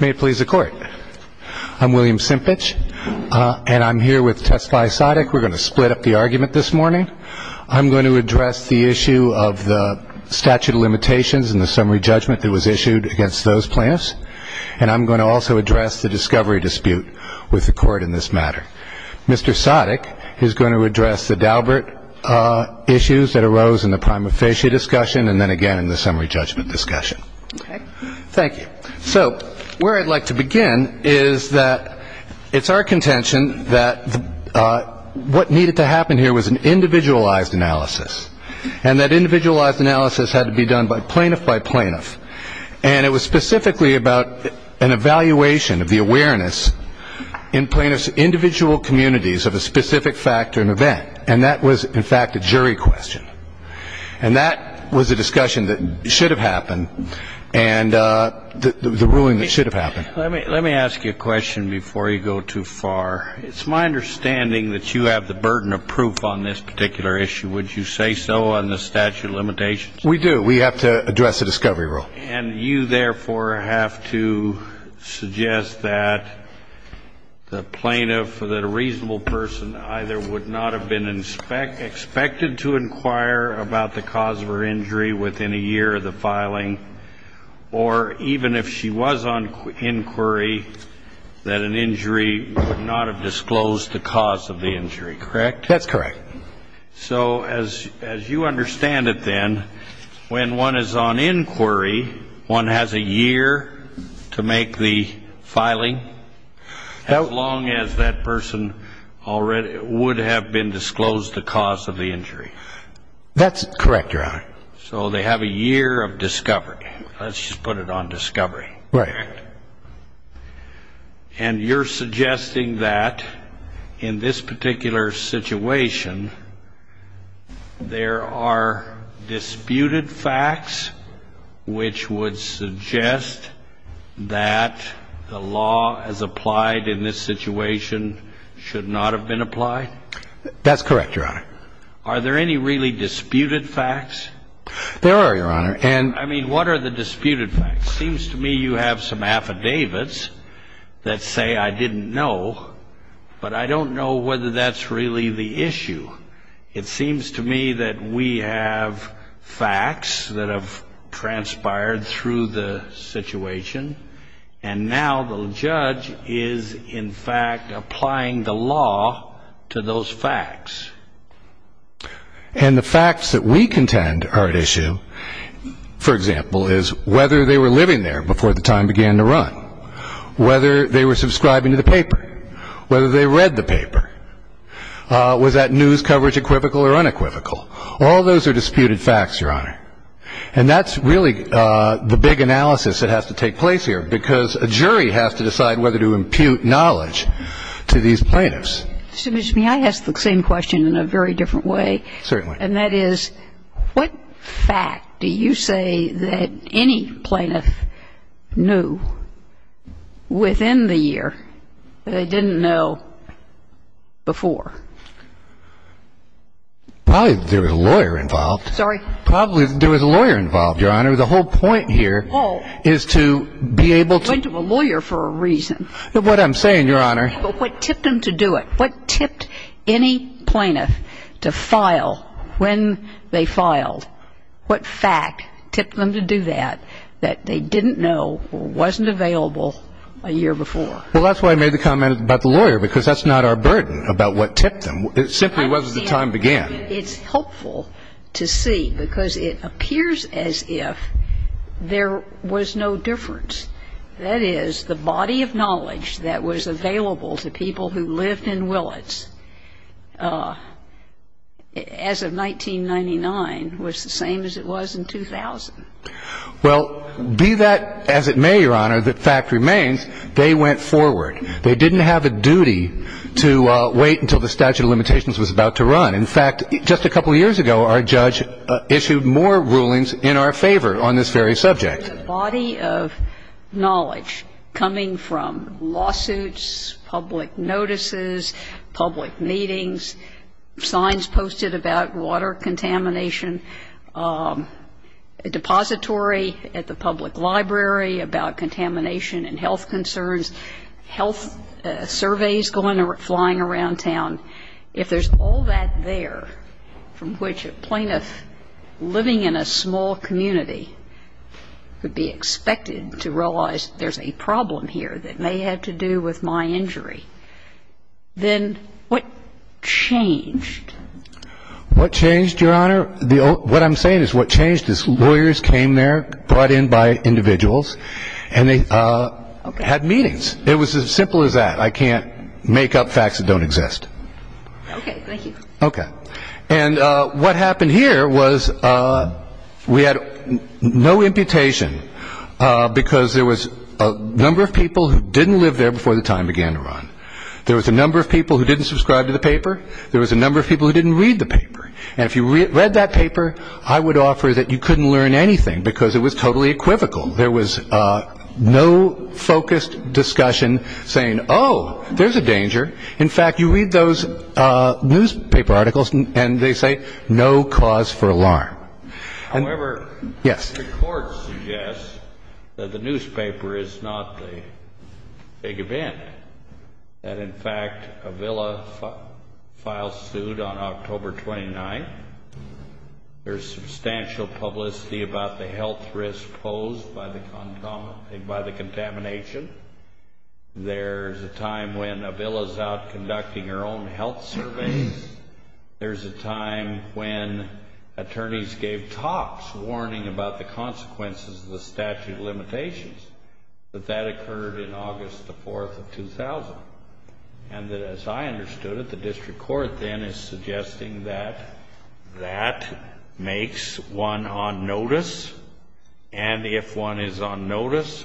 May it please the Court. I'm William Simpich, and I'm here with Testify Sadek. We're going to split up the argument this morning. I'm going to address the issue of the statute of limitations and the summary judgment that was issued against those plaintiffs, and I'm going to also address the discovery dispute with the Court in this matter. Mr. Sadek is going to address the Daubert issues that arose in the prima facie discussion and then again in the summary judgment discussion. Okay. Thank you. So where I'd like to begin is that it's our contention that what needed to happen here was an individualized analysis, and that individualized analysis had to be done by plaintiff by plaintiff, and it was specifically about an evaluation of the awareness in plaintiff's individual communities of a specific fact or an event, and that was, in fact, a jury question. And that was a discussion that should have happened, and the ruling that should have happened. Let me ask you a question before you go too far. It's my understanding that you have the burden of proof on this particular issue. Would you say so on the statute of limitations? We do. We have to address the discovery rule. And you, therefore, have to suggest that the plaintiff, that a reasonable person, either would not have been expected to inquire about the cause of her injury within a year of the filing, or even if she was on inquiry, that an injury would not have disclosed the cause of the injury, correct? That's correct. So as you understand it then, when one is on inquiry, one has a year to make the filing, as long as that person already would have been disclosed the cause of the injury. That's correct, Your Honor. So they have a year of discovery. Let's just put it on discovery. Right. And you're suggesting that in this particular situation there are disputed facts which would suggest that the law as applied in this situation should not have been applied? That's correct, Your Honor. Are there any really disputed facts? There are, Your Honor. I mean, what are the disputed facts? It seems to me you have some affidavits that say I didn't know, but I don't know whether that's really the issue. It seems to me that we have facts that have transpired through the situation, and now the judge is, in fact, applying the law to those facts. And the facts that we contend are at issue, for example, is whether they were living there before the time began to run, whether they were subscribing to the paper, whether they read the paper. Was that news coverage equivocal or unequivocal? All those are disputed facts, Your Honor. And that's really the big analysis that has to take place here, because a jury has to decide whether to impute knowledge to these plaintiffs. Excuse me. May I ask the same question in a very different way? Certainly. And that is, what fact do you say that any plaintiff knew within the year that they didn't know before? Probably there was a lawyer involved. Sorry? Probably there was a lawyer involved, Your Honor. The whole point here is to be able to – Went to a lawyer for a reason. What I'm saying, Your Honor – But what tipped them to do it? What tipped any plaintiff to file when they filed? What fact tipped them to do that that they didn't know or wasn't available a year before? Well, that's why I made the comment about the lawyer, because that's not our burden, about what tipped them. It simply was as the time began. It's helpful to see, because it appears as if there was no difference. That is, the body of knowledge that was available to people who lived in Willits as of 1999 was the same as it was in 2000. Well, be that as it may, Your Honor, the fact remains they went forward. They didn't have a duty to wait until the statute of limitations was about to run. In fact, just a couple years ago, our judge issued more rulings in our favor on this very subject. The body of knowledge coming from lawsuits, public notices, public meetings, signs posted about water contamination, a depository at the public library about contamination and health concerns, health surveys going or flying around town, if there's all that there from which a plaintiff living in a small community could be expected to realize there's a problem here that may have to do with my injury, then what changed? What changed, Your Honor? What I'm saying is what changed is lawyers came there, brought in by individuals, and they had meetings. It was as simple as that. I can't make up facts that don't exist. Okay. Thank you. Okay. And what happened here was we had no imputation because there was a number of people who didn't live there before the time began to run. There was a number of people who didn't subscribe to the paper. There was a number of people who didn't read the paper. And if you read that paper, I would offer that you couldn't learn anything because it was totally equivocal. There was no focused discussion saying, oh, there's a danger. In fact, you read those newspaper articles and they say no cause for alarm. However, the court suggests that the newspaper is not the big event, that in fact a villa file sued on October 29th. There's substantial publicity about the health risk posed by the contamination. There's a time when a villa's out conducting her own health surveys. There's a time when attorneys gave talks warning about the consequences of the statute of limitations, that that occurred in August the 4th of 2000. And that as I understood it, the district court then is suggesting that that makes one on notice. And if one is on notice,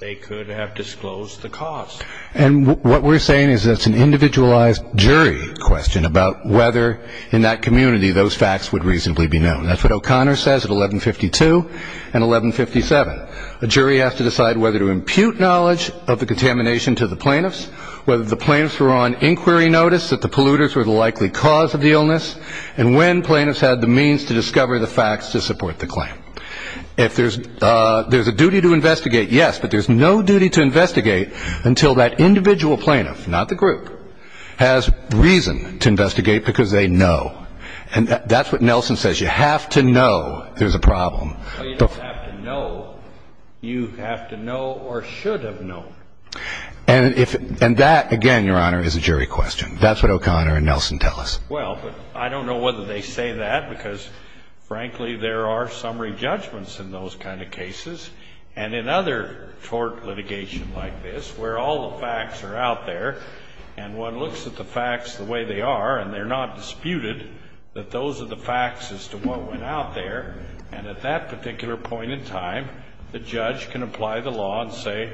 they could have disclosed the cause. And what we're saying is that's an individualized jury question about whether in that community those facts would reasonably be known. That's what O'Connor says at 1152 and 1157. A jury has to decide whether to impute knowledge of the contamination to the plaintiffs, whether the plaintiffs were on inquiry notice that the polluters were the likely cause of the illness, and when plaintiffs had the means to discover the facts to support the claim. If there's a duty to investigate, yes. But there's no duty to investigate until that individual plaintiff, not the group, has reason to investigate because they know. And that's what Nelson says. You have to know there's a problem. Well, you don't have to know. You have to know or should have known. And that, again, Your Honor, is a jury question. That's what O'Connor and Nelson tell us. Well, but I don't know whether they say that because, frankly, there are summary judgments in those kind of cases. And in other tort litigation like this where all the facts are out there and one looks at the facts the way they are and they're not disputed, that those are the facts as to what went out there. And at that particular point in time, the judge can apply the law and say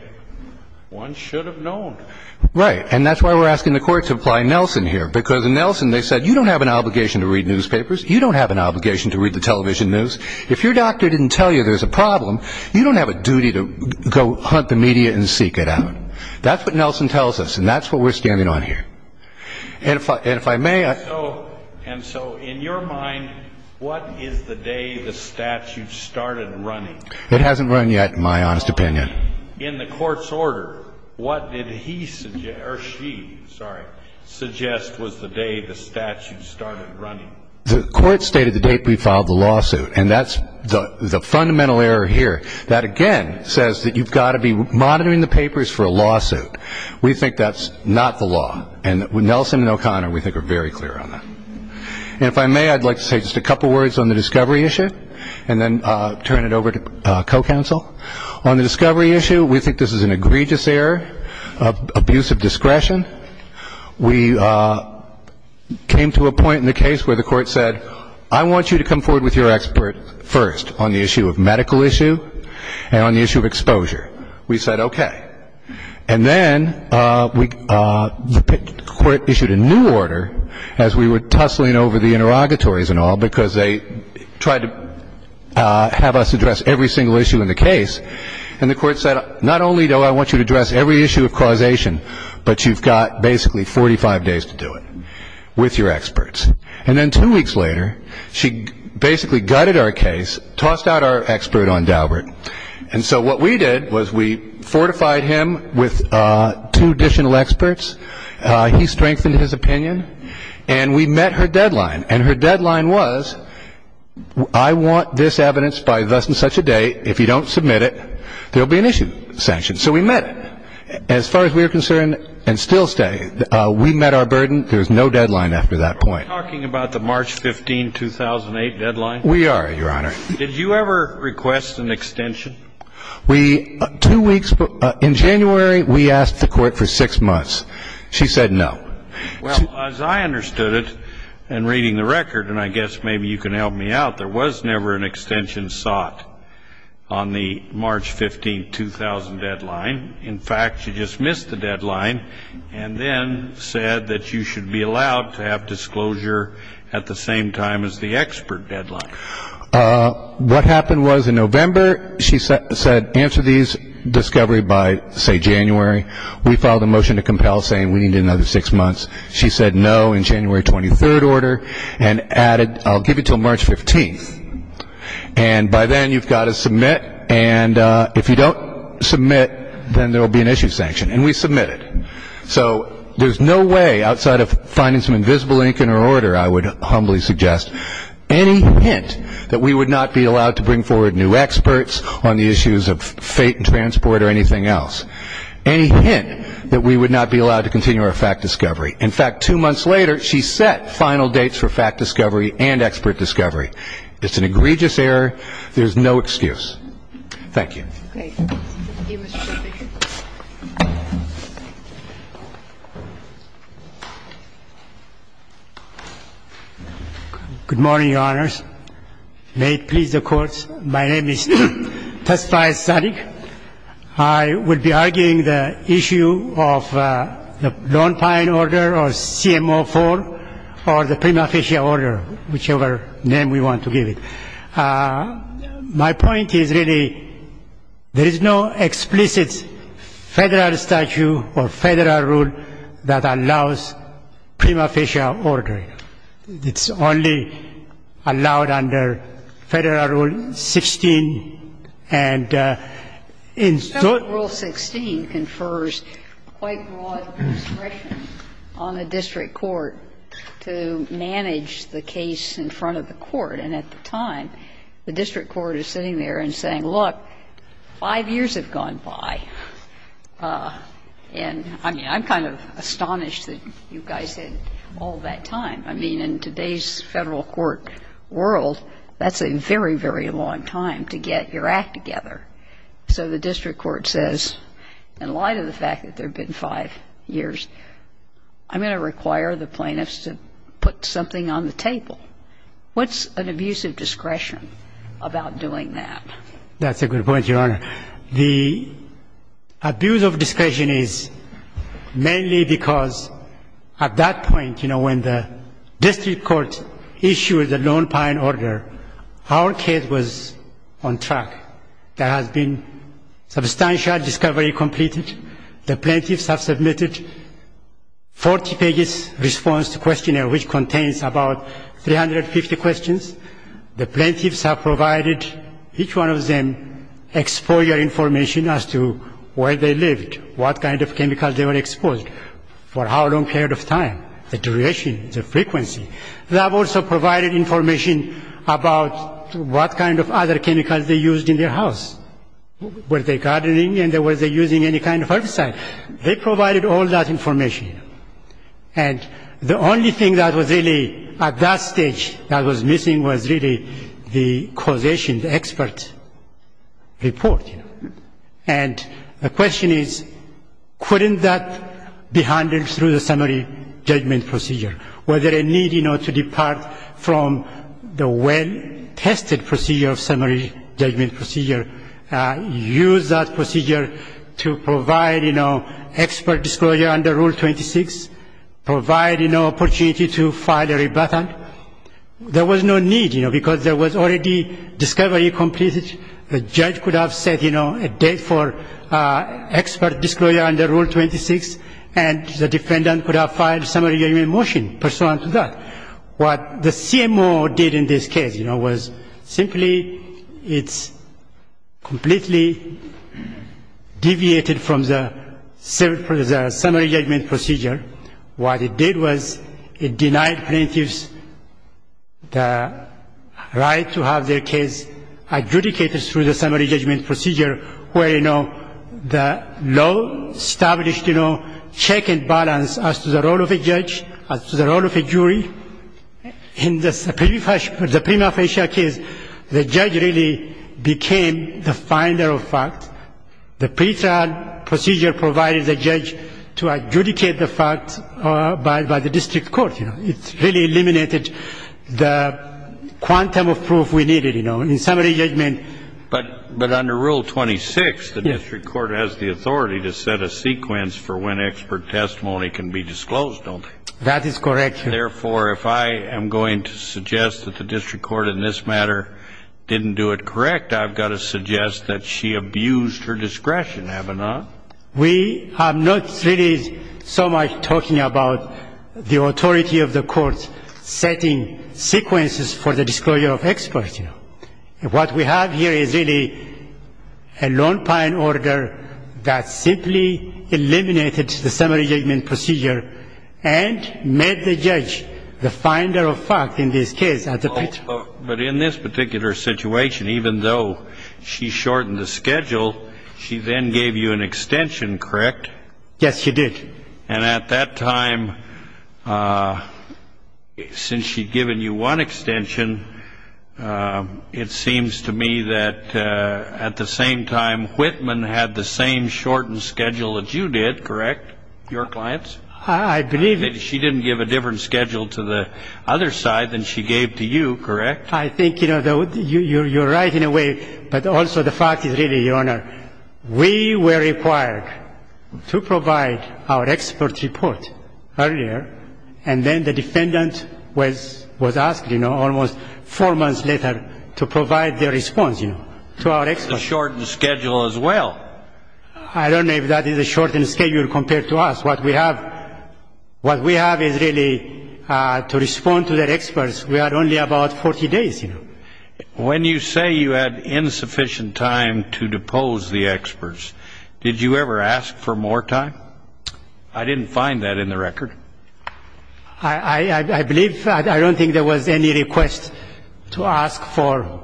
one should have known. Right. And that's why we're asking the Court to apply Nelson here because in Nelson they said you don't have an obligation to read newspapers. You don't have an obligation to read the television news. If your doctor didn't tell you there's a problem, you don't have a duty to go hunt the media and seek it out. That's what Nelson tells us, and that's what we're standing on here. And if I may, I... And so in your mind, what is the day the statute started running? It hasn't run yet, in my honest opinion. In the Court's order, what did he or she suggest was the day the statute started running? The Court stated the date we filed the lawsuit, and that's the fundamental error here. That, again, says that you've got to be monitoring the papers for a lawsuit. We think that's not the law, and Nelson and O'Connor, we think, are very clear on that. And if I may, I'd like to say just a couple words on the discovery issue and then turn it over to co-counsel. On the discovery issue, we think this is an egregious error, abuse of discretion. We came to a point in the case where the Court said, I want you to come forward with your expert first on the issue of medical issue and on the issue of exposure. We said, okay. And then the Court issued a new order as we were tussling over the interrogatories and all, because they tried to have us address every single issue in the case. And the Court said, not only do I want you to address every issue of causation, but you've got basically 45 days to do it with your experts. And then two weeks later, she basically gutted our case, tossed out our expert on Daubert. And so what we did was we fortified him with two additional experts. He strengthened his opinion. And we met her deadline. And her deadline was, I want this evidence by thus and such a date. If you don't submit it, there will be an issue sanctioned. So we met it. As far as we were concerned, and still stay, we met our burden. There was no deadline after that point. Are we talking about the March 15, 2008 deadline? We are, Your Honor. Did you ever request an extension? We – two weeks – in January, we asked the Court for six months. She said no. Well, as I understood it in reading the record, and I guess maybe you can help me out, there was never an extension sought on the March 15, 2000 deadline. In fact, she just missed the deadline and then said that you should be allowed to have disclosure at the same time as the expert deadline. What happened was in November, she said answer these discovery by, say, January. We filed a motion to compel saying we needed another six months. She said no in January 23rd order and added, I'll give you until March 15th. And by then, you've got to submit. And if you don't submit, then there will be an issue sanctioned. And we submitted. So there's no way outside of finding some invisible ink in her order, I would humbly suggest, any hint that we would not be allowed to bring forward new experts on the issues of fate and transport or anything else, any hint that we would not be allowed to continue our fact discovery. In fact, two months later, she set final dates for fact discovery and expert discovery. It's an egregious error. There's no excuse. Thank you. Okay. Thank you, Mr. Professor. Good morning, Your Honors. May it please the Court. My name is Tesfai Sadiq. I will be arguing the issue of the Lone Pine order or CMO 4 or the prima facie order, whichever name we want to give it. My point is, really, there is no explicit Federal statute or Federal rule that allows prima facie order. It's only allowed under Federal Rule 16. And in sort of the Rule 16 confers quite broad discretion on the district court to manage the case in front of the court. And at the time, the district court is sitting there and saying, look, five years have gone by. And, I mean, I'm kind of astonished that you guys had all that time. I mean, in today's Federal court world, that's a very, very long time to get your act together. So the district court says, in light of the fact that there have been five years, I'm going to require the plaintiffs to put something on the table. What's an abuse of discretion about doing that? That's a good point, Your Honor. The abuse of discretion is mainly because at that point, you know, when the district court issued the Lone Pine order, our case was on track. There has been substantial discovery completed. The plaintiffs have submitted 40 pages response to questionnaire, which contains about 350 questions. The plaintiffs have provided each one of them explorer information as to where they lived, what kind of chemicals they were exposed, for how long period of time, the duration, the frequency. They have also provided information about what kind of other chemicals they used in their house. Were they gardening and were they using any kind of herbicide? They provided all that information. And the only thing that was really at that stage that was missing was really the causation, the expert report. And the question is, couldn't that be handled through the summary judgment procedure? Was there a need, you know, to depart from the well-tested procedure of summary judgment procedure, use that procedure to provide, you know, expert disclosure under Rule 26, provide, you know, opportunity to file a rebuttal? There was no need, you know, because there was already discovery completed. The judge could have set, you know, a date for expert disclosure under Rule 26, and the What the CMO did in this case, you know, was simply it's completely deviated from the summary judgment procedure. What it did was it denied plaintiffs the right to have their case adjudicated through the summary judgment procedure where, you know, the law established, you know, check and balance as to the role of a judge, as to the role of a jury. In the prima facie case, the judge really became the finder of fact. The pretrial procedure provided the judge to adjudicate the fact by the district court, you know. It really eliminated the quantum of proof we needed, you know, in summary judgment. But under Rule 26, the district court has the authority to set a sequence for when expert testimony can be disclosed, don't they? That is correct, Your Honor. Therefore, if I am going to suggest that the district court in this matter didn't do it correct, I've got to suggest that she abused her discretion, have I not? We are not really so much talking about the authority of the courts setting sequences for the disclosure of experts, you know. What we have here is really a Lone Pine order that simply eliminated the summary judgment procedure and made the judge the finder of fact in this case at the pretrial. But in this particular situation, even though she shortened the schedule, she then gave you an extension, correct? Yes, she did. And at that time, since she'd given you one extension, it seems to me that at the same time, Whitman had the same shortened schedule that you did, correct, your clients? I believe it. She didn't give a different schedule to the other side than she gave to you, correct? I think, you know, you're right in a way, but also the fact is really, Your Honor, we were required to provide our expert report earlier, and then the defendant was asked, you know, almost four months later to provide their response, you know, to our experts. It's a shortened schedule as well. I don't know if that is a shortened schedule compared to us. What we have is really to respond to the experts. We had only about 40 days, you know. When you say you had insufficient time to depose the experts, did you ever ask for more time? I didn't find that in the record. I believe, I don't think there was any request to ask for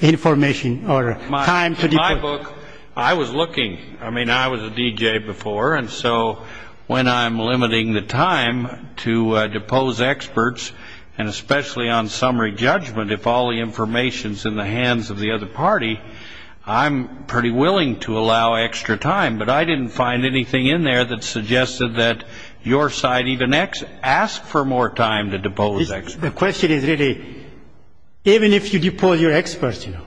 information or time to depose. In my book, I was looking. I mean, I was a DJ before, and so when I'm limiting the time to depose experts, and especially on summary judgment, if all the information is in the hands of the other party, I'm pretty willing to allow extra time. But I didn't find anything in there that suggested that your side even asked for more time to depose experts. The question is really, even if you depose your experts, you know,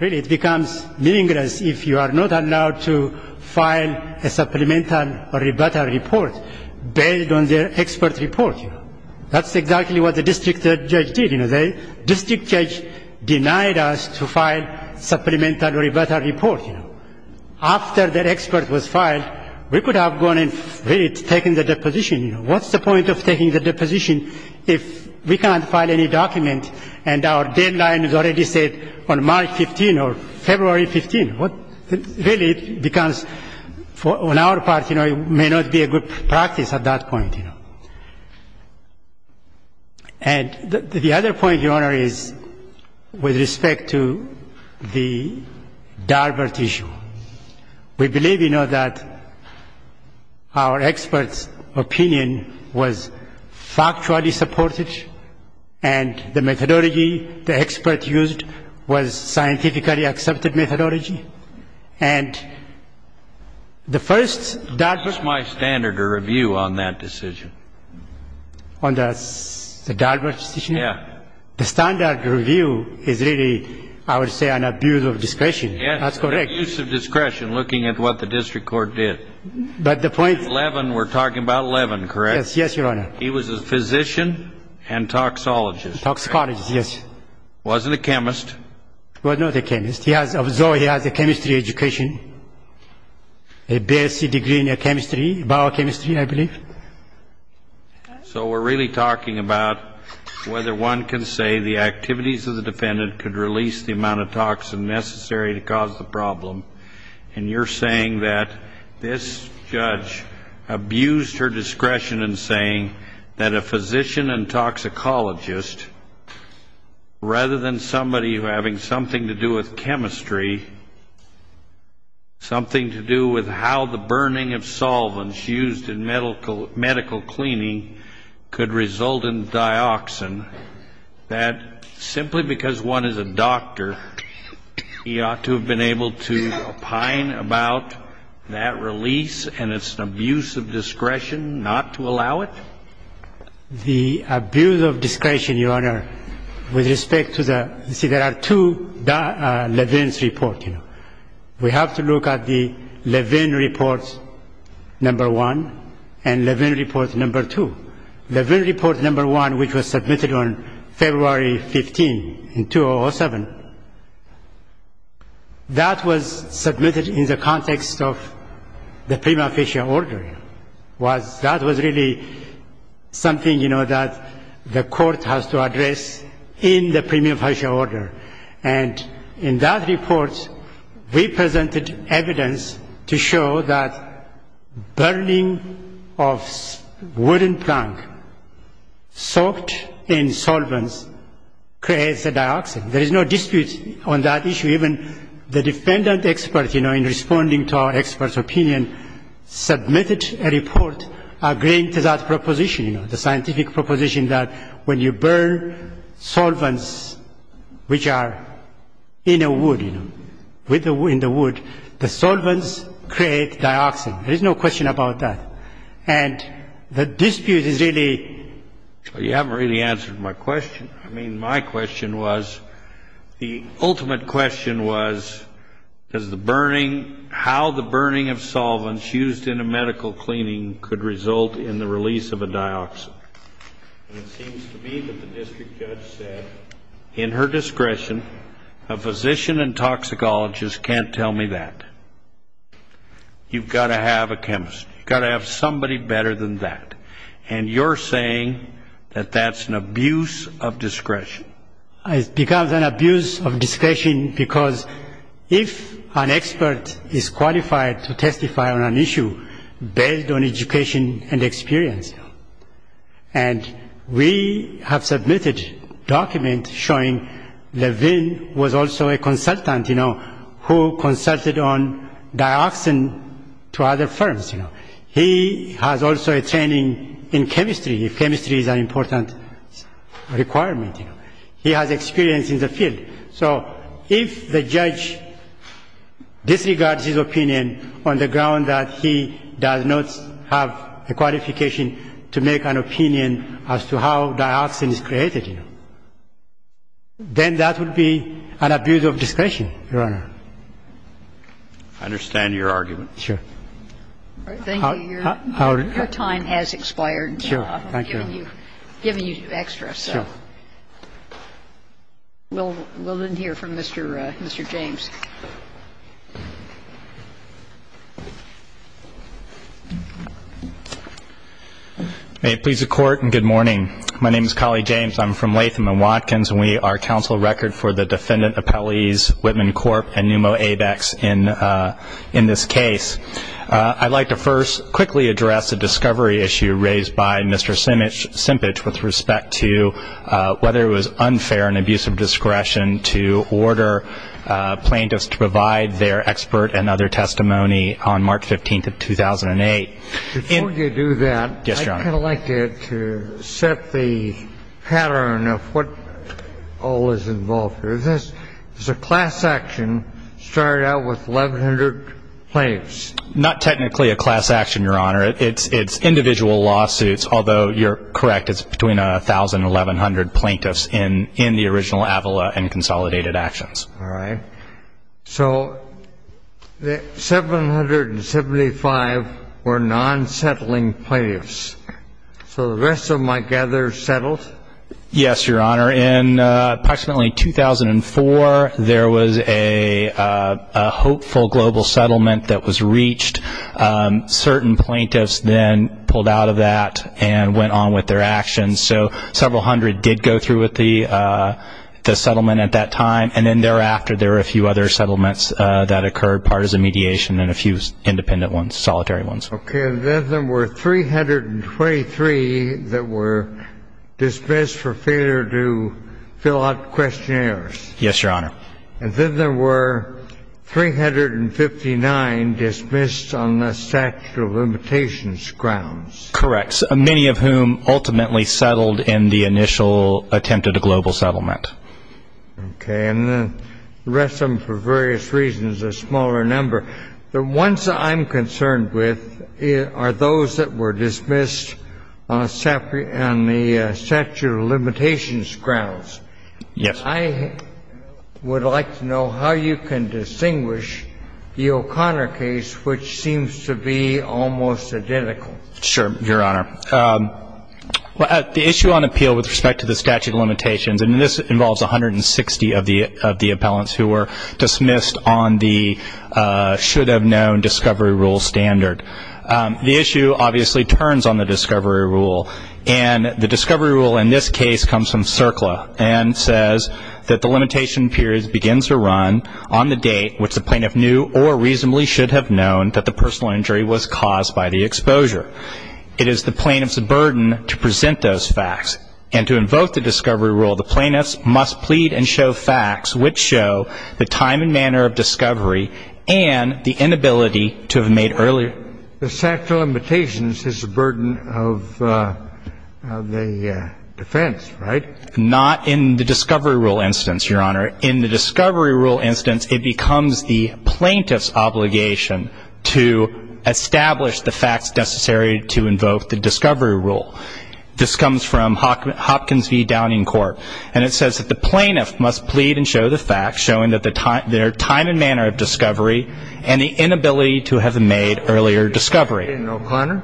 really it becomes meaningless if you are not allowed to file a supplemental rebuttal report based on their expert report, you know. That's exactly what the district judge did. You know, the district judge denied us to file supplemental rebuttal report, you know. After their expert was filed, we could have gone and really taken the deposition, you know. What's the point of taking the deposition if we can't file any document and our deadline is already set on March 15 or February 15? Really, it becomes, on our part, you know, it may not be a good practice at that point, you know. And the other point, Your Honor, is with respect to the Darbert issue. We believe, you know, that our experts' opinion was factually supported, and the methodology the expert used was scientifically accepted methodology. And the first Darbert ---- This is my standard of review on that decision. On the Darbert decision? Yeah. The standard review is really, I would say, an abuse of discretion. Yes. That's correct. Abuse of discretion, looking at what the district court did. But the point ---- Levin, we're talking about Levin, correct? Yes, Your Honor. He was a physician and toxologist, correct? Toxicologist, yes. Wasn't a chemist. Was not a chemist. He has a chemistry education, a BSc degree in chemistry, biochemistry, I believe. So we're really talking about whether one can say the activities of the defendant could release the amount of toxin necessary to cause the problem. And you're saying that this judge abused her discretion in saying that a physician and toxicologist, rather than somebody having something to do with chemistry, something to do with how the burning of solvents used in medical cleaning could result in dioxin, that simply because one is a doctor, he ought to have been able to opine about that release, and it's an abuse of discretion not to allow it? The abuse of discretion, Your Honor, with respect to the ---- You see, there are two Levin's reports. We have to look at the Levin report number one and Levin report number two. The Levin report number one, which was submitted on February 15, 2007, that was submitted in the context of the premium facial order. That was really something, you know, that the court has to address in the premium facial order. And in that report, we presented evidence to show that burning of wooden plank soaked in solvents creates a dioxin. There is no dispute on that issue. Even the defendant expert, you know, in responding to our expert's opinion, submitted a report agreeing to that proposition, you know, the scientific proposition that when you burn solvents which are in a wood, you know, in the wood, the solvents create dioxin. There is no question about that. And the dispute is really ---- Well, you haven't really answered my question. I mean, my question was, the ultimate question was, does the burning, how the burning of solvents used in a medical cleaning could result in the release of a dioxin? And it seems to me that the district judge said, in her discretion, a physician and toxicologist can't tell me that. You've got to have a chemist. You've got to have somebody better than that. And you're saying that that's an abuse of discretion. It becomes an abuse of discretion because if an expert is qualified to testify on an issue based on education and experience, and we have submitted documents showing Levin was also a consultant, you know, who consulted on dioxin to other firms. He has also a training in chemistry, if chemistry is an important requirement. He has experience in the field. So if the judge disregards his opinion on the ground that he does not have a qualification to make an opinion as to how dioxin is created, then that would be an abuse of discretion, Your Honor. I understand your argument. Sure. Thank you. Your time has expired. Sure. Thank you. I've given you extra. Sure. We'll then hear from Mr. James. May it please the Court, and good morning. My name is Colley James. I'm from Latham & Watkins, and we are counsel record for the defendant appellees in this case. I'd like to first quickly address a discovery issue raised by Mr. Simpich with respect to whether it was unfair and abuse of discretion to order plaintiffs to provide their expert and other testimony on March 15th of 2008. Before you do that, I'd kind of like to set the pattern of what all is involved here. This is a class action started out with 1,100 plaintiffs. Not technically a class action, Your Honor. It's individual lawsuits, although you're correct. It's between 1,000 and 1,100 plaintiffs in the original Avala and consolidated actions. All right. So the 775 were non-settling plaintiffs. So the rest of them, I gather, settled? Yes, Your Honor. In approximately 2004, there was a hopeful global settlement that was reached. Certain plaintiffs then pulled out of that and went on with their actions. So several hundred did go through with the settlement at that time, and then thereafter, there were a few other settlements that occurred, partisan mediation and a few independent ones, solitary ones. Okay. And then there were 323 that were dismissed for failure to fill out questionnaires. Yes, Your Honor. And then there were 359 dismissed on the statute of limitations grounds. Correct. Many of whom ultimately settled in the initial attempt at a global settlement. Okay. And the rest of them, for various reasons, a smaller number. The ones that I'm concerned with are those that were dismissed on the statute of limitations grounds. Yes. I would like to know how you can distinguish the O'Connor case, which seems to be almost identical. Sure, Your Honor. The issue on appeal with respect to the statute of limitations, and this involves 160 of the appellants who were dismissed on the should-have-known discovery rule standard. The issue obviously turns on the discovery rule, and the discovery rule in this case comes from CERCLA and says that the limitation period begins to run on the date which the plaintiff knew or reasonably should have known that the personal injury was caused by the exposure. It is the plaintiff's burden to present those facts, and to invoke the discovery rule, the plaintiffs must plead and show facts which show the time and manner of discovery and the inability to have made earlier. The statute of limitations is the burden of the defense, right? Not in the discovery rule instance, Your Honor. In the discovery rule instance, it becomes the plaintiff's obligation to establish the facts necessary to invoke the discovery rule. This comes from Hopkins v. Downing Court, and it says that the plaintiff must plead and show the facts showing their time and manner of discovery and the inability to have made earlier discovery. In O'Connor?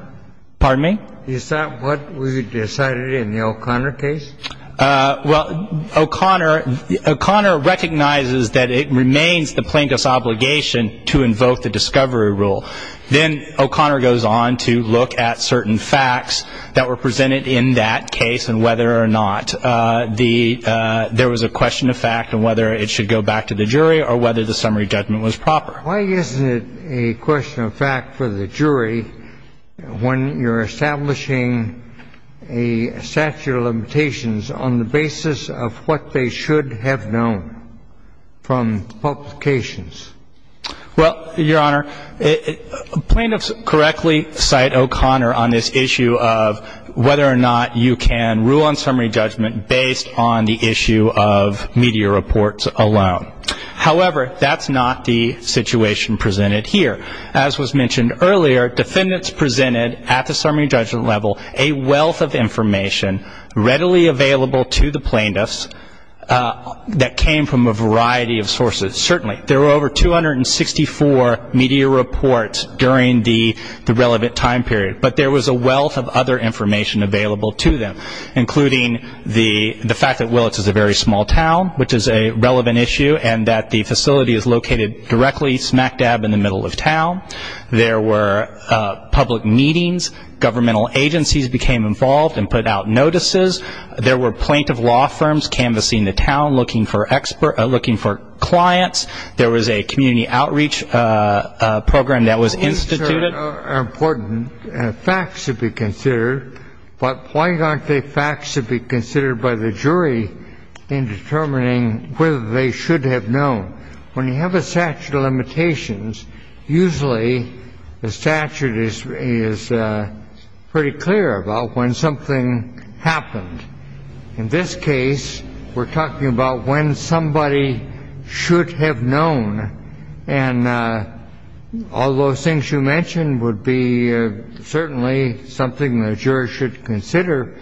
Pardon me? Is that what was decided in the O'Connor case? Well, O'Connor recognizes that it remains the plaintiff's obligation to invoke the discovery rule. Then O'Connor goes on to look at certain facts that were presented in that case and whether or not there was a question of fact and whether it should go back to the jury or whether the summary judgment was proper. Why isn't it a question of fact for the jury when you're establishing a statute of limitations on the basis of what they should have known from publications? Well, Your Honor, plaintiffs correctly cite O'Connor on this issue of whether or not you can rule on summary judgment based on the issue of media reports alone. However, that's not the situation presented here. As was mentioned earlier, defendants presented at the summary judgment level a wealth of information readily available to the plaintiffs that came from a variety of sources. Certainly, there were over 264 media reports during the relevant time period, but there was a wealth of other information available to them, including the fact that Willetts is a very small town, which is a relevant issue, and that the facility is located directly smack dab in the middle of town. There were public meetings. Governmental agencies became involved and put out notices. There were plaintiff law firms canvassing the town looking for clients. There was a community outreach program that was instituted. These are important facts to be considered, but why aren't they facts to be considered by the jury in determining whether they should have known? When you have a statute of limitations, usually the statute is pretty clear about when something happened. In this case, we're talking about when somebody should have known, and all those things you mentioned would be certainly something the jury should consider,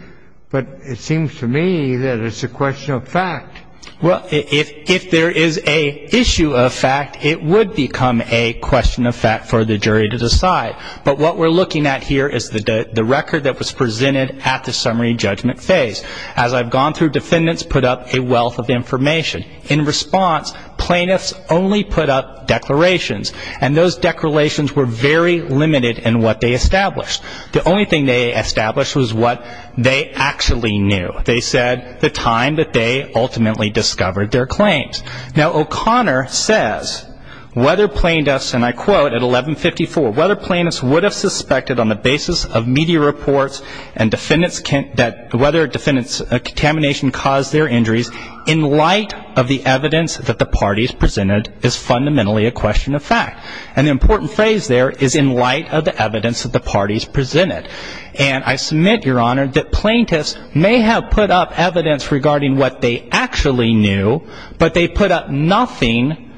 but it seems to me that it's a question of fact. Well, if there is an issue of fact, it would become a question of fact for the jury to decide, but what we're looking at here is the record that was presented at the summary judgment phase. As I've gone through, defendants put up a wealth of information. In response, plaintiffs only put up declarations, and those declarations were very limited in what they established. The only thing they established was what they actually knew. They said the time that they ultimately discovered their claims. Now, O'Connor says, whether plaintiffs, and I quote, at 1154, whether plaintiffs would have suspected on the basis of media reports and whether contamination caused their injuries in light of the evidence that the parties presented is fundamentally a question of fact, and the important phrase there is in light of the evidence that the parties presented, and I submit, Your Honor, that plaintiffs may have put up evidence regarding what they actually knew, but they put up nothing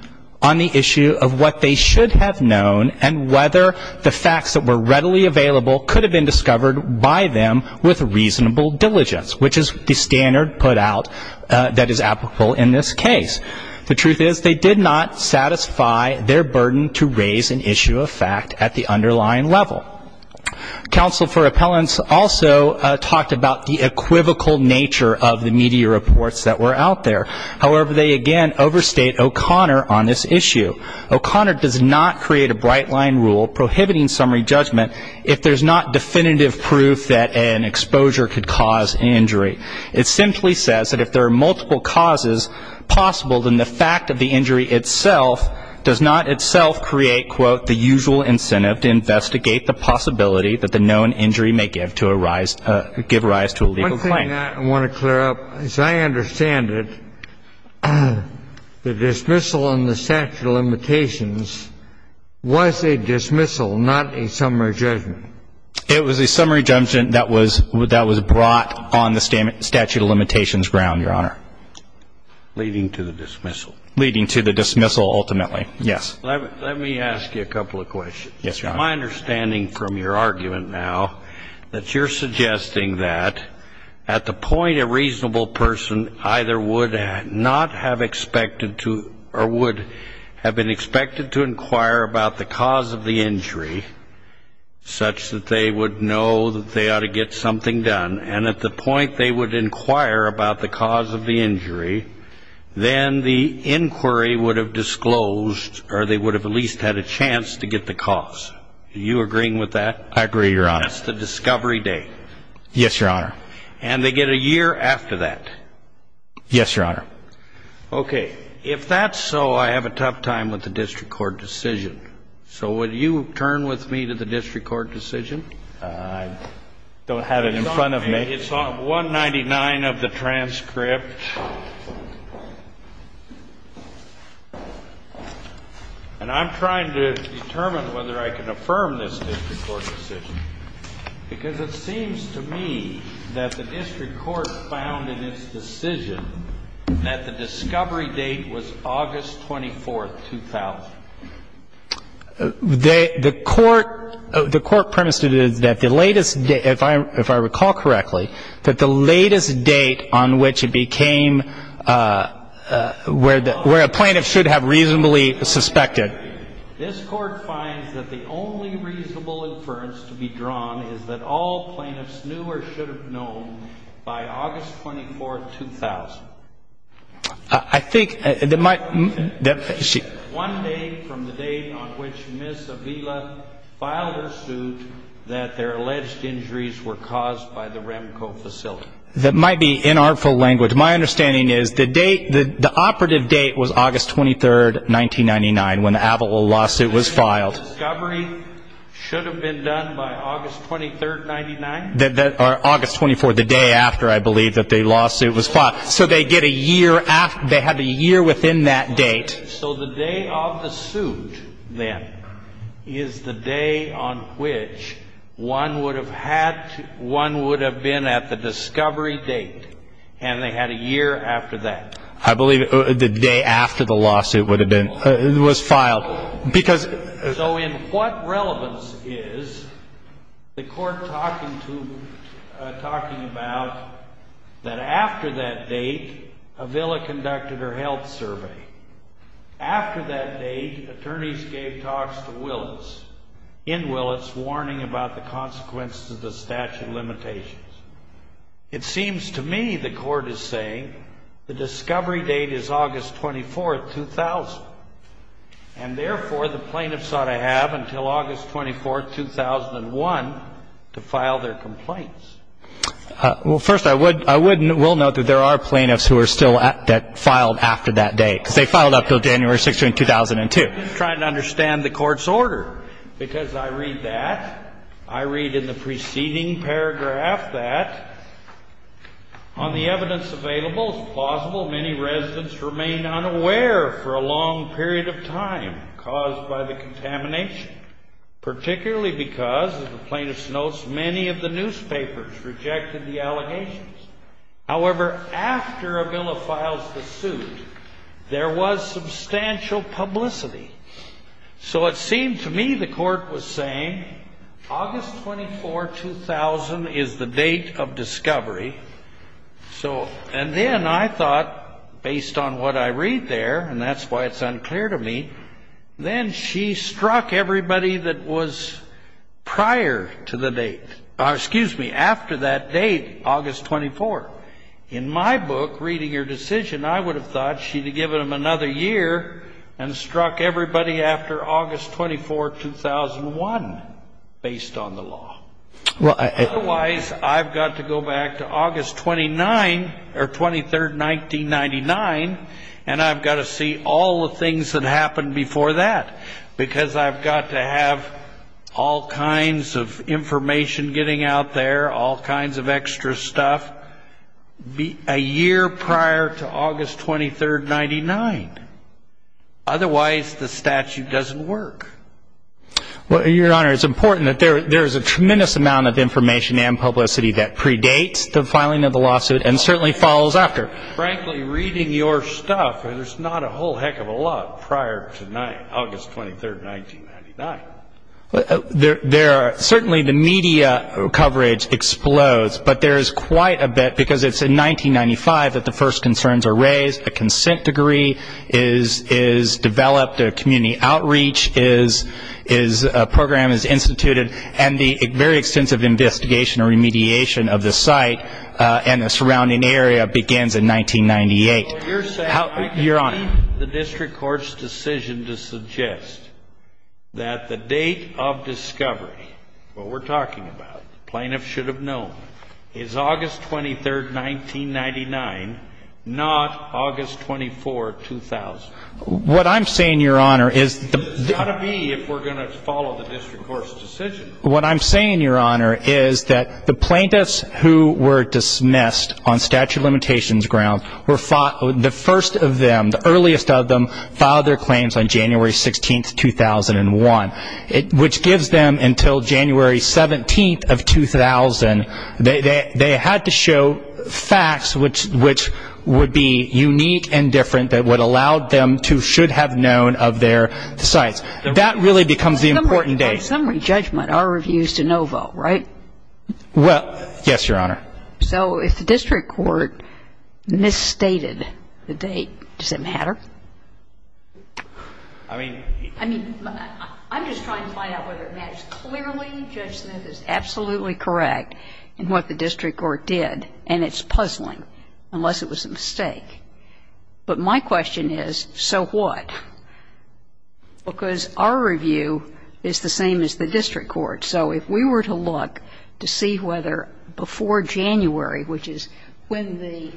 on the issue of what they should have known and whether the facts that were readily available could have been discovered by them with reasonable diligence, which is the standard put out that is applicable in this case. The truth is they did not satisfy their burden to raise an issue of fact at the underlying level. Counsel for Appellants also talked about the equivocal nature of the media reports that were out there. However, they again overstate O'Connor on this issue. O'Connor does not create a bright line rule prohibiting summary judgment if there's not definitive proof that an exposure could cause an injury. It simply says that if there are multiple causes possible, then the fact of the injury itself does not itself create, quote, the usual incentive to investigate the possibility that the known injury may give rise to a legal claim. One thing I want to clear up, as I understand it, the dismissal on the statute of limitations was a dismissal, not a summary judgment. It was a summary judgment that was brought on the statute of limitations ground, Your Honor. Leading to the dismissal. Leading to the dismissal ultimately, yes. Let me ask you a couple of questions. Yes, Your Honor. My understanding from your argument now that you're suggesting that at the point a reasonable person either would not have expected to or would have been expected to inquire about the cause of the injury such that they would know that they ought to get something done, and at the point they would inquire about the cause of the injury, then the inquiry would have disclosed or they would have at least had a chance to get the cause. Are you agreeing with that? I agree, Your Honor. That's the discovery date. Yes, Your Honor. And they get a year after that. Yes, Your Honor. Okay. If that's so, I have a tough time with the district court decision. So would you turn with me to the district court decision? I don't have it in front of me. It's on 199 of the transcript. And I'm trying to determine whether I can affirm this district court decision, because it seems to me that the district court found in its decision that the discovery date was August 24, 2000. The court premised that the latest date, if I recall correctly, that the latest date on which it became where a plaintiff should have reasonably suspected. This court finds that the only reasonable inference to be drawn is that all plaintiffs knew or should have known by August 24, 2000. I think that my ---- One day from the date on which Ms. Avila filed her suit that their alleged injuries were caused by the Remco facility. That might be inartful language. My understanding is the date, the operative date was August 23, 1999, when the Avila lawsuit was filed. And the discovery should have been done by August 23, 1999? Or August 24, the day after, I believe, that the lawsuit was filed. So they get a year after, they have a year within that date. So the day of the suit, then, is the day on which one would have had, one would have been at the discovery date. And they had a year after that. I believe the day after the lawsuit would have been, was filed. So in what relevance is the court talking about that after that date, Avila conducted her health survey? After that date, attorneys gave talks to Willis, in Willis, warning about the consequences of the statute limitations. It seems to me the court is saying the discovery date is August 24, 2000. And, therefore, the plaintiffs ought to have until August 24, 2001 to file their complaints. Well, first, I would, I would and will note that there are plaintiffs who are still at, that filed after that date. Because they filed up until January 6, 2002. I'm just trying to understand the court's order. Because I read that. I read in the preceding paragraph that, on the evidence available, it's plausible many residents remain unaware for a long period of time caused by the contamination. Particularly because, as the plaintiff notes, many of the newspapers rejected the allegations. However, after Avila files the suit, there was substantial publicity. So it seemed to me the court was saying, August 24, 2000 is the date of discovery. So, and then I thought, based on what I read there, and that's why it's unclear to me, then she struck everybody that was prior to the date, excuse me, after that date, August 24. In my book, Reading Your Decision, I would have thought she'd have given them another year and struck everybody after August 24, 2001, based on the law. Otherwise, I've got to go back to August 29, or 23, 1999, and I've got to see all the things that happened before that. Because I've got to have all kinds of information getting out there, all kinds of extra stuff, a year prior to August 23, 1999. Otherwise, the statute doesn't work. Well, Your Honor, it's important that there is a tremendous amount of information and publicity that predates the filing of the lawsuit and certainly follows after. Frankly, reading your stuff, there's not a whole heck of a lot prior to August 23, 1999. Certainly the media coverage explodes, but there is quite a bit, because it's in 1995 that the first concerns are raised, a consent degree is developed, community outreach program is instituted, and the very extensive investigation or remediation of the site and the surrounding area begins in 1998. Your Honor, I concede the district court's decision to suggest that the date of discovery, what we're talking about, the plaintiff should have known, is August 23, 1999, not August 24, 2000. What I'm saying, Your Honor, is the It's got to be if we're going to follow the district court's decision. What I'm saying, Your Honor, is that the plaintiffs who were dismissed on statute of limitations grounds, the first of them, the earliest of them, filed their claims on January 16, 2001, which gives them until January 17, 2000. They had to show facts which would be unique and different that would allow them to should have known of their sites. That really becomes the important date. By summary judgment, our review is to no vote, right? Well, yes, Your Honor. So if the district court misstated the date, does it matter? I mean, I'm just trying to find out whether it matters. Clearly, Judge Smith is absolutely correct in what the district court did, and it's puzzling, unless it was a mistake. But my question is, so what? Because our review is the same as the district court's. So if we were to look to see whether before January, which is when the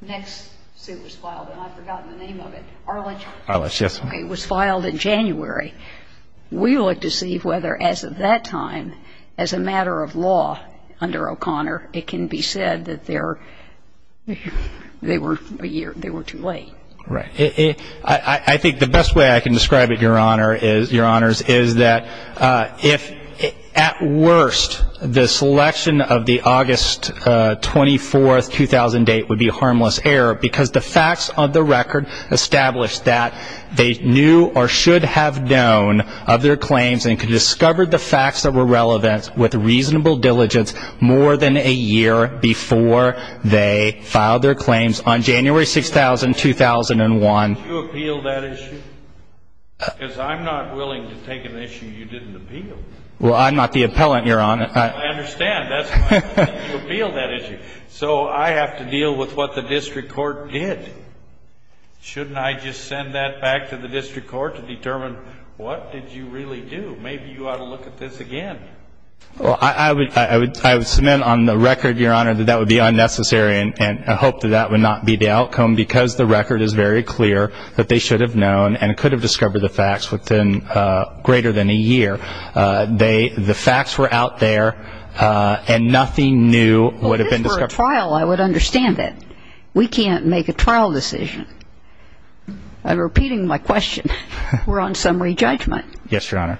next suit was filed, and I've forgotten the name of it, Arledge? Arledge, yes. It was filed in January. We look to see whether, as of that time, as a matter of law under O'Connor, it can be said that they were too late. Right. I think the best way I can describe it, Your Honors, is that if, at worst, the selection of the August 24, 2008, would be harmless error because the facts of the record that they knew or should have known of their claims and could discover the facts that were relevant with reasonable diligence more than a year before they filed their claims on January 6, 2001. Did you appeal that issue? Because I'm not willing to take an issue you didn't appeal. Well, I'm not the appellant, Your Honor. I understand. That's why I didn't appeal that issue. So I have to deal with what the district court did. Shouldn't I just send that back to the district court to determine what did you really do? Maybe you ought to look at this again. Well, I would submit on the record, Your Honor, that that would be unnecessary, and I hope that that would not be the outcome because the record is very clear that they should have known and could have discovered the facts within greater than a year. The facts were out there, and nothing new would have been discovered. If this were a trial, I would understand that. We can't make a trial decision. I'm repeating my question. We're on summary judgment. Yes, Your Honor.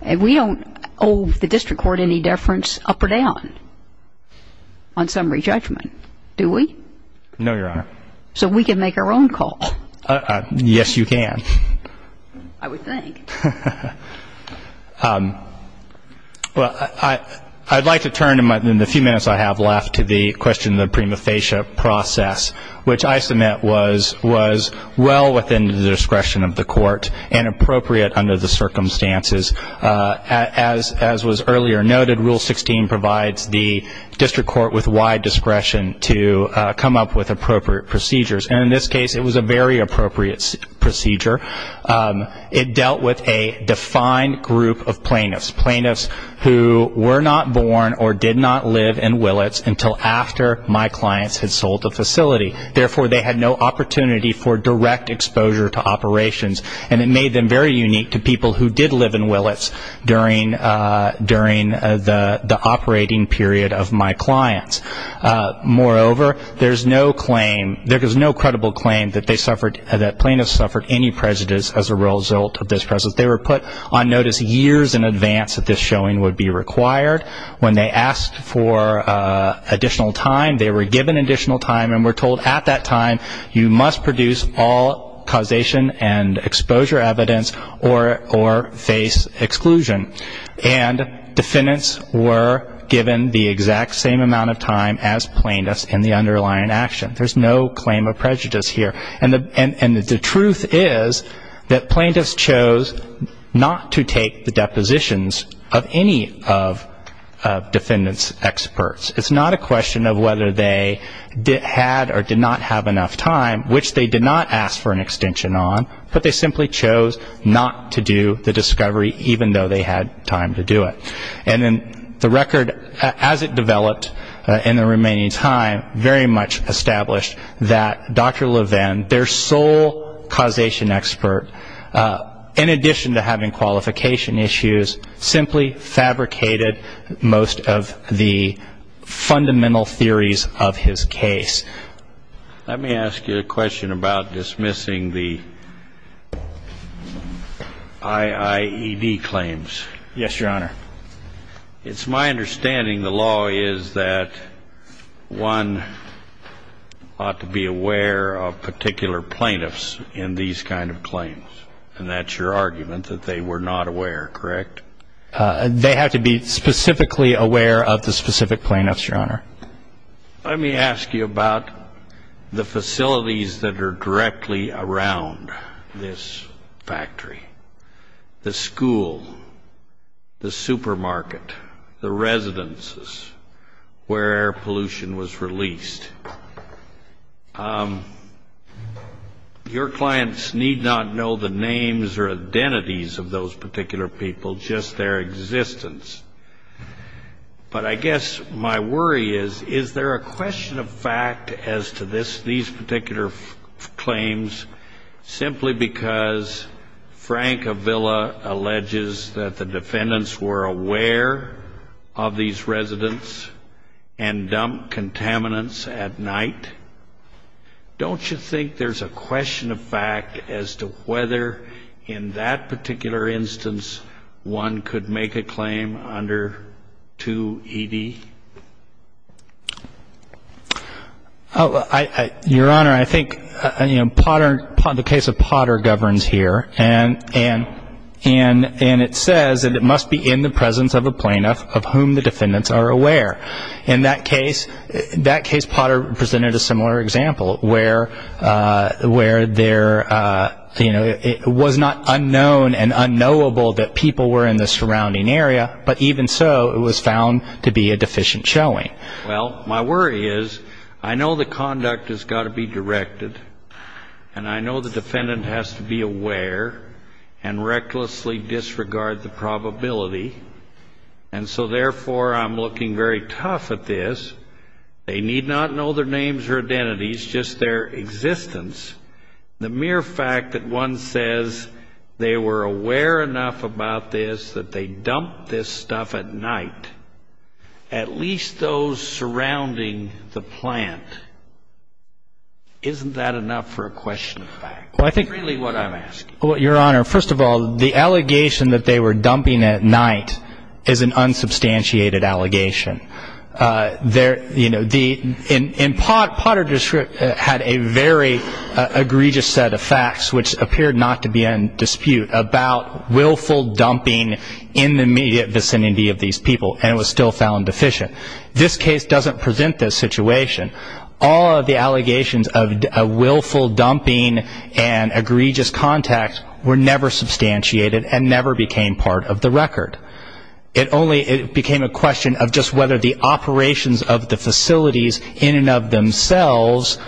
And we don't owe the district court any deference up or down on summary judgment, do we? No, Your Honor. So we can make our own call. Yes, you can. I would think. Well, I'd like to turn in the few minutes I have left to the question of the prima facie process, which I submit was well within the discretion of the court and appropriate under the circumstances. As was earlier noted, Rule 16 provides the district court with wide discretion to come up with appropriate procedures. And in this case, it was a very appropriate procedure. It dealt with a defined group of plaintiffs, plaintiffs who were not born or did not live in Willits until after my clients had sold the facility. Therefore, they had no opportunity for direct exposure to operations, and it made them very unique to people who did live in Willits during the operating period of my clients. Moreover, there is no claim, there is no credible claim that plaintiffs suffered any prejudice as a result of this presence. They were put on notice years in advance that this showing would be required. When they asked for additional time, they were given additional time, and were told at that time you must produce all causation and exposure evidence or face exclusion. And defendants were given the exact same amount of time as plaintiffs in the underlying action. There's no claim of prejudice here. And the truth is that plaintiffs chose not to take the depositions of any of defendants' experts. It's not a question of whether they had or did not have enough time, which they did not ask for an extension on, but they simply chose not to do the discovery even though they had time to do it. And then the record, as it developed in the remaining time, very much established that Dr. Levin, their sole causation expert, in addition to having qualification issues, simply fabricated most of the fundamental theories of his case. Let me ask you a question about dismissing the IIED claims. Yes, Your Honor. It's my understanding the law is that one ought to be aware of particular plaintiffs in these kind of claims, and that's your argument that they were not aware, correct? They had to be specifically aware of the specific plaintiffs, Your Honor. Let me ask you about the facilities that are directly around this factory, the school, the supermarket, the residences where pollution was released. Your clients need not know the names or identities of those particular people, just their existence. But I guess my worry is, is there a question of fact as to these particular claims simply because Frank Avila alleges that the defendants were aware of these residents and dumped contaminants at night? Don't you think there's a question of fact as to whether, in that particular instance, one could make a claim under 2ED? Your Honor, I think the case of Potter governs here, and it says that it must be in the presence of a plaintiff of whom the defendants are aware. In that case, Potter presented a similar example, where it was not unknown and unknowable that people were in the surrounding area, but even so, it was found to be a deficient showing. Well, my worry is, I know the conduct has got to be directed, and I know the defendant has to be aware and recklessly disregard the probability, and so therefore I'm looking very tough at this. They need not know their names or identities, just their existence. The mere fact that one says they were aware enough about this that they dumped this stuff at night, at least those surrounding the plant, isn't that enough for a question of fact? That's really what I'm asking. Well, Your Honor, first of all, the allegation that they were dumping at night is an unsubstantiated allegation. Potter had a very egregious set of facts, which appeared not to be in dispute about willful dumping in the immediate vicinity of these people, and it was still found deficient. This case doesn't present this situation. All of the allegations of willful dumping and egregious contact were never substantiated and never became part of the record. It only became a question of just whether the operations of the facilities in and of themselves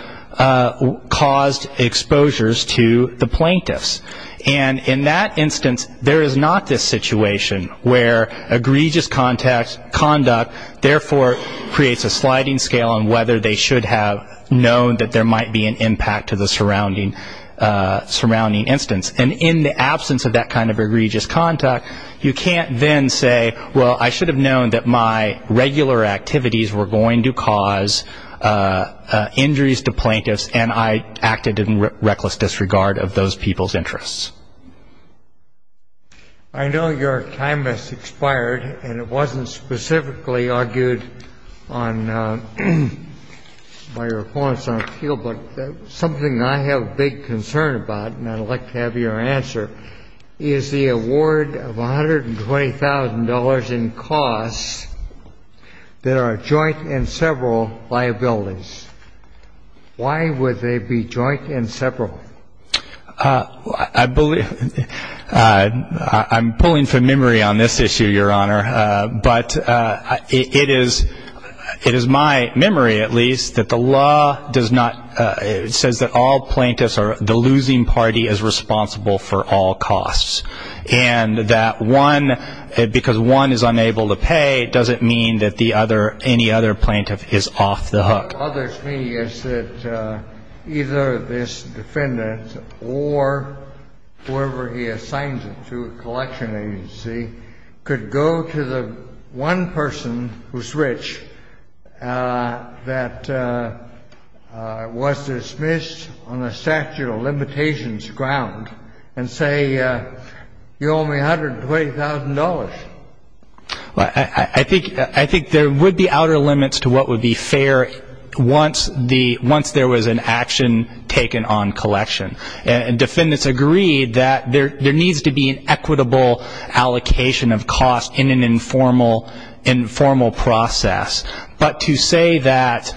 caused exposures to the plaintiffs, and in that instance there is not this situation where egregious conduct therefore creates a sliding scale on whether they should have known that there might be an impact to the surrounding instance, and in the absence of that kind of egregious contact, you can't then say, well, I should have known that my regular activities were going to cause injuries to plaintiffs and I acted in reckless disregard of those people's interests. I know your time has expired and it wasn't specifically argued by your opponents on appeal, but something I have big concern about, and I'd like to have your answer, is the award of $120,000 in costs that are joint and several liabilities. Why would they be joint and several? I believe ‑‑ I'm pulling from memory on this issue, Your Honor, but it is my memory at least that the law does not ‑‑ it says that all plaintiffs are the losing party is responsible for all costs, and that one, because one is unable to pay, doesn't mean that the other, any other plaintiff is off the hook. What others mean is that either this defendant or whoever he assigns it to, the collection agency, could go to the one person who's rich that was dismissed on a statute of limitations ground and say, you owe me $120,000. I think there would be outer limits to what would be fair once there was an action taken on collection. And defendants agreed that there needs to be an equitable allocation of costs in an informal process. But to say that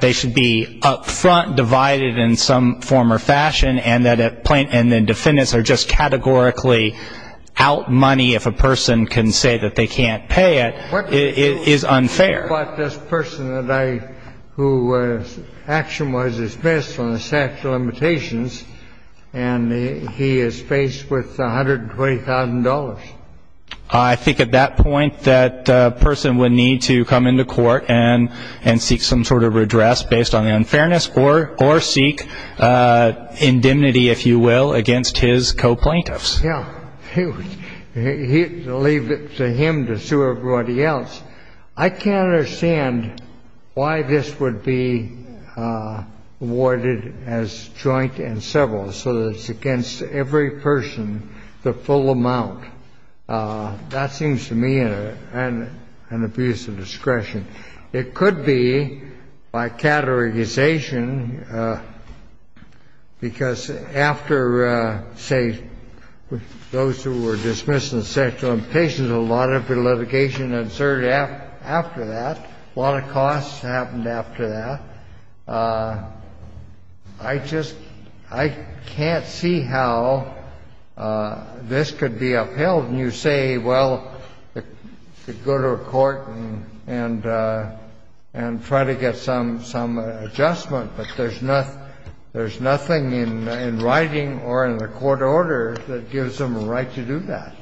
they should be up front divided in some form or fashion and that a plaintiff and the defendants are just categorically out money if a person can say that they can't pay it is unfair. But this person that I ‑‑ whose action was dismissed on the statute of limitations, and he is faced with $120,000. I think at that point that person would need to come into court and seek some sort of redress based on the unfairness or seek indemnity, if you will, against his co‑plaintiffs. Yeah. Leave it to him to sue everybody else. I can't understand why this would be awarded as joint and several, so that it's against every person the full amount. That seems to me an abuse of discretion. It could be by categorization, because after, say, those who were dismissed on the statute of limitations, there was a lot of litigation inserted after that, a lot of costs happened after that. I just ‑‑ I can't see how this could be upheld. And you say, well, go to a court and try to get some adjustment, but there's nothing in writing or in the court order that gives them a right to do that.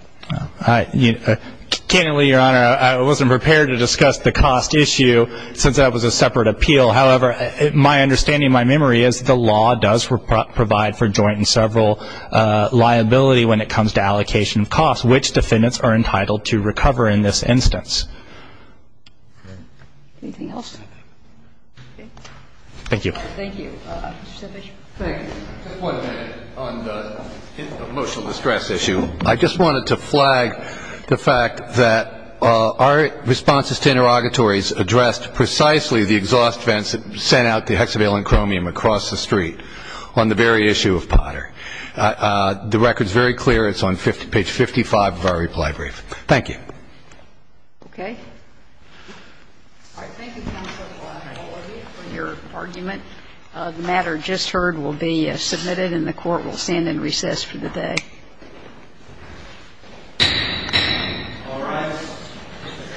I ‑‑ candidly, Your Honor, I wasn't prepared to discuss the cost issue, since that was a separate appeal. However, my understanding, my memory is the law does provide for joint and several liability when it comes to allocation of costs, which defendants are entitled to recover in this instance. Anything else? Okay. Thank you. Thank you. Mr. Sedlich. Thank you. Just one minute. On the emotional distress issue, I just wanted to flag the fact that our responses to interrogatories addressed precisely the exhaust vents that sent out the hexavalent chromium across the street on the very issue of Potter. The record is very clear. It's on page 55 of our reply brief. Okay. All right. Thank you, Counsel. Your argument of the matter just heard will be submitted, and the court will stand in recess for the day. All rise.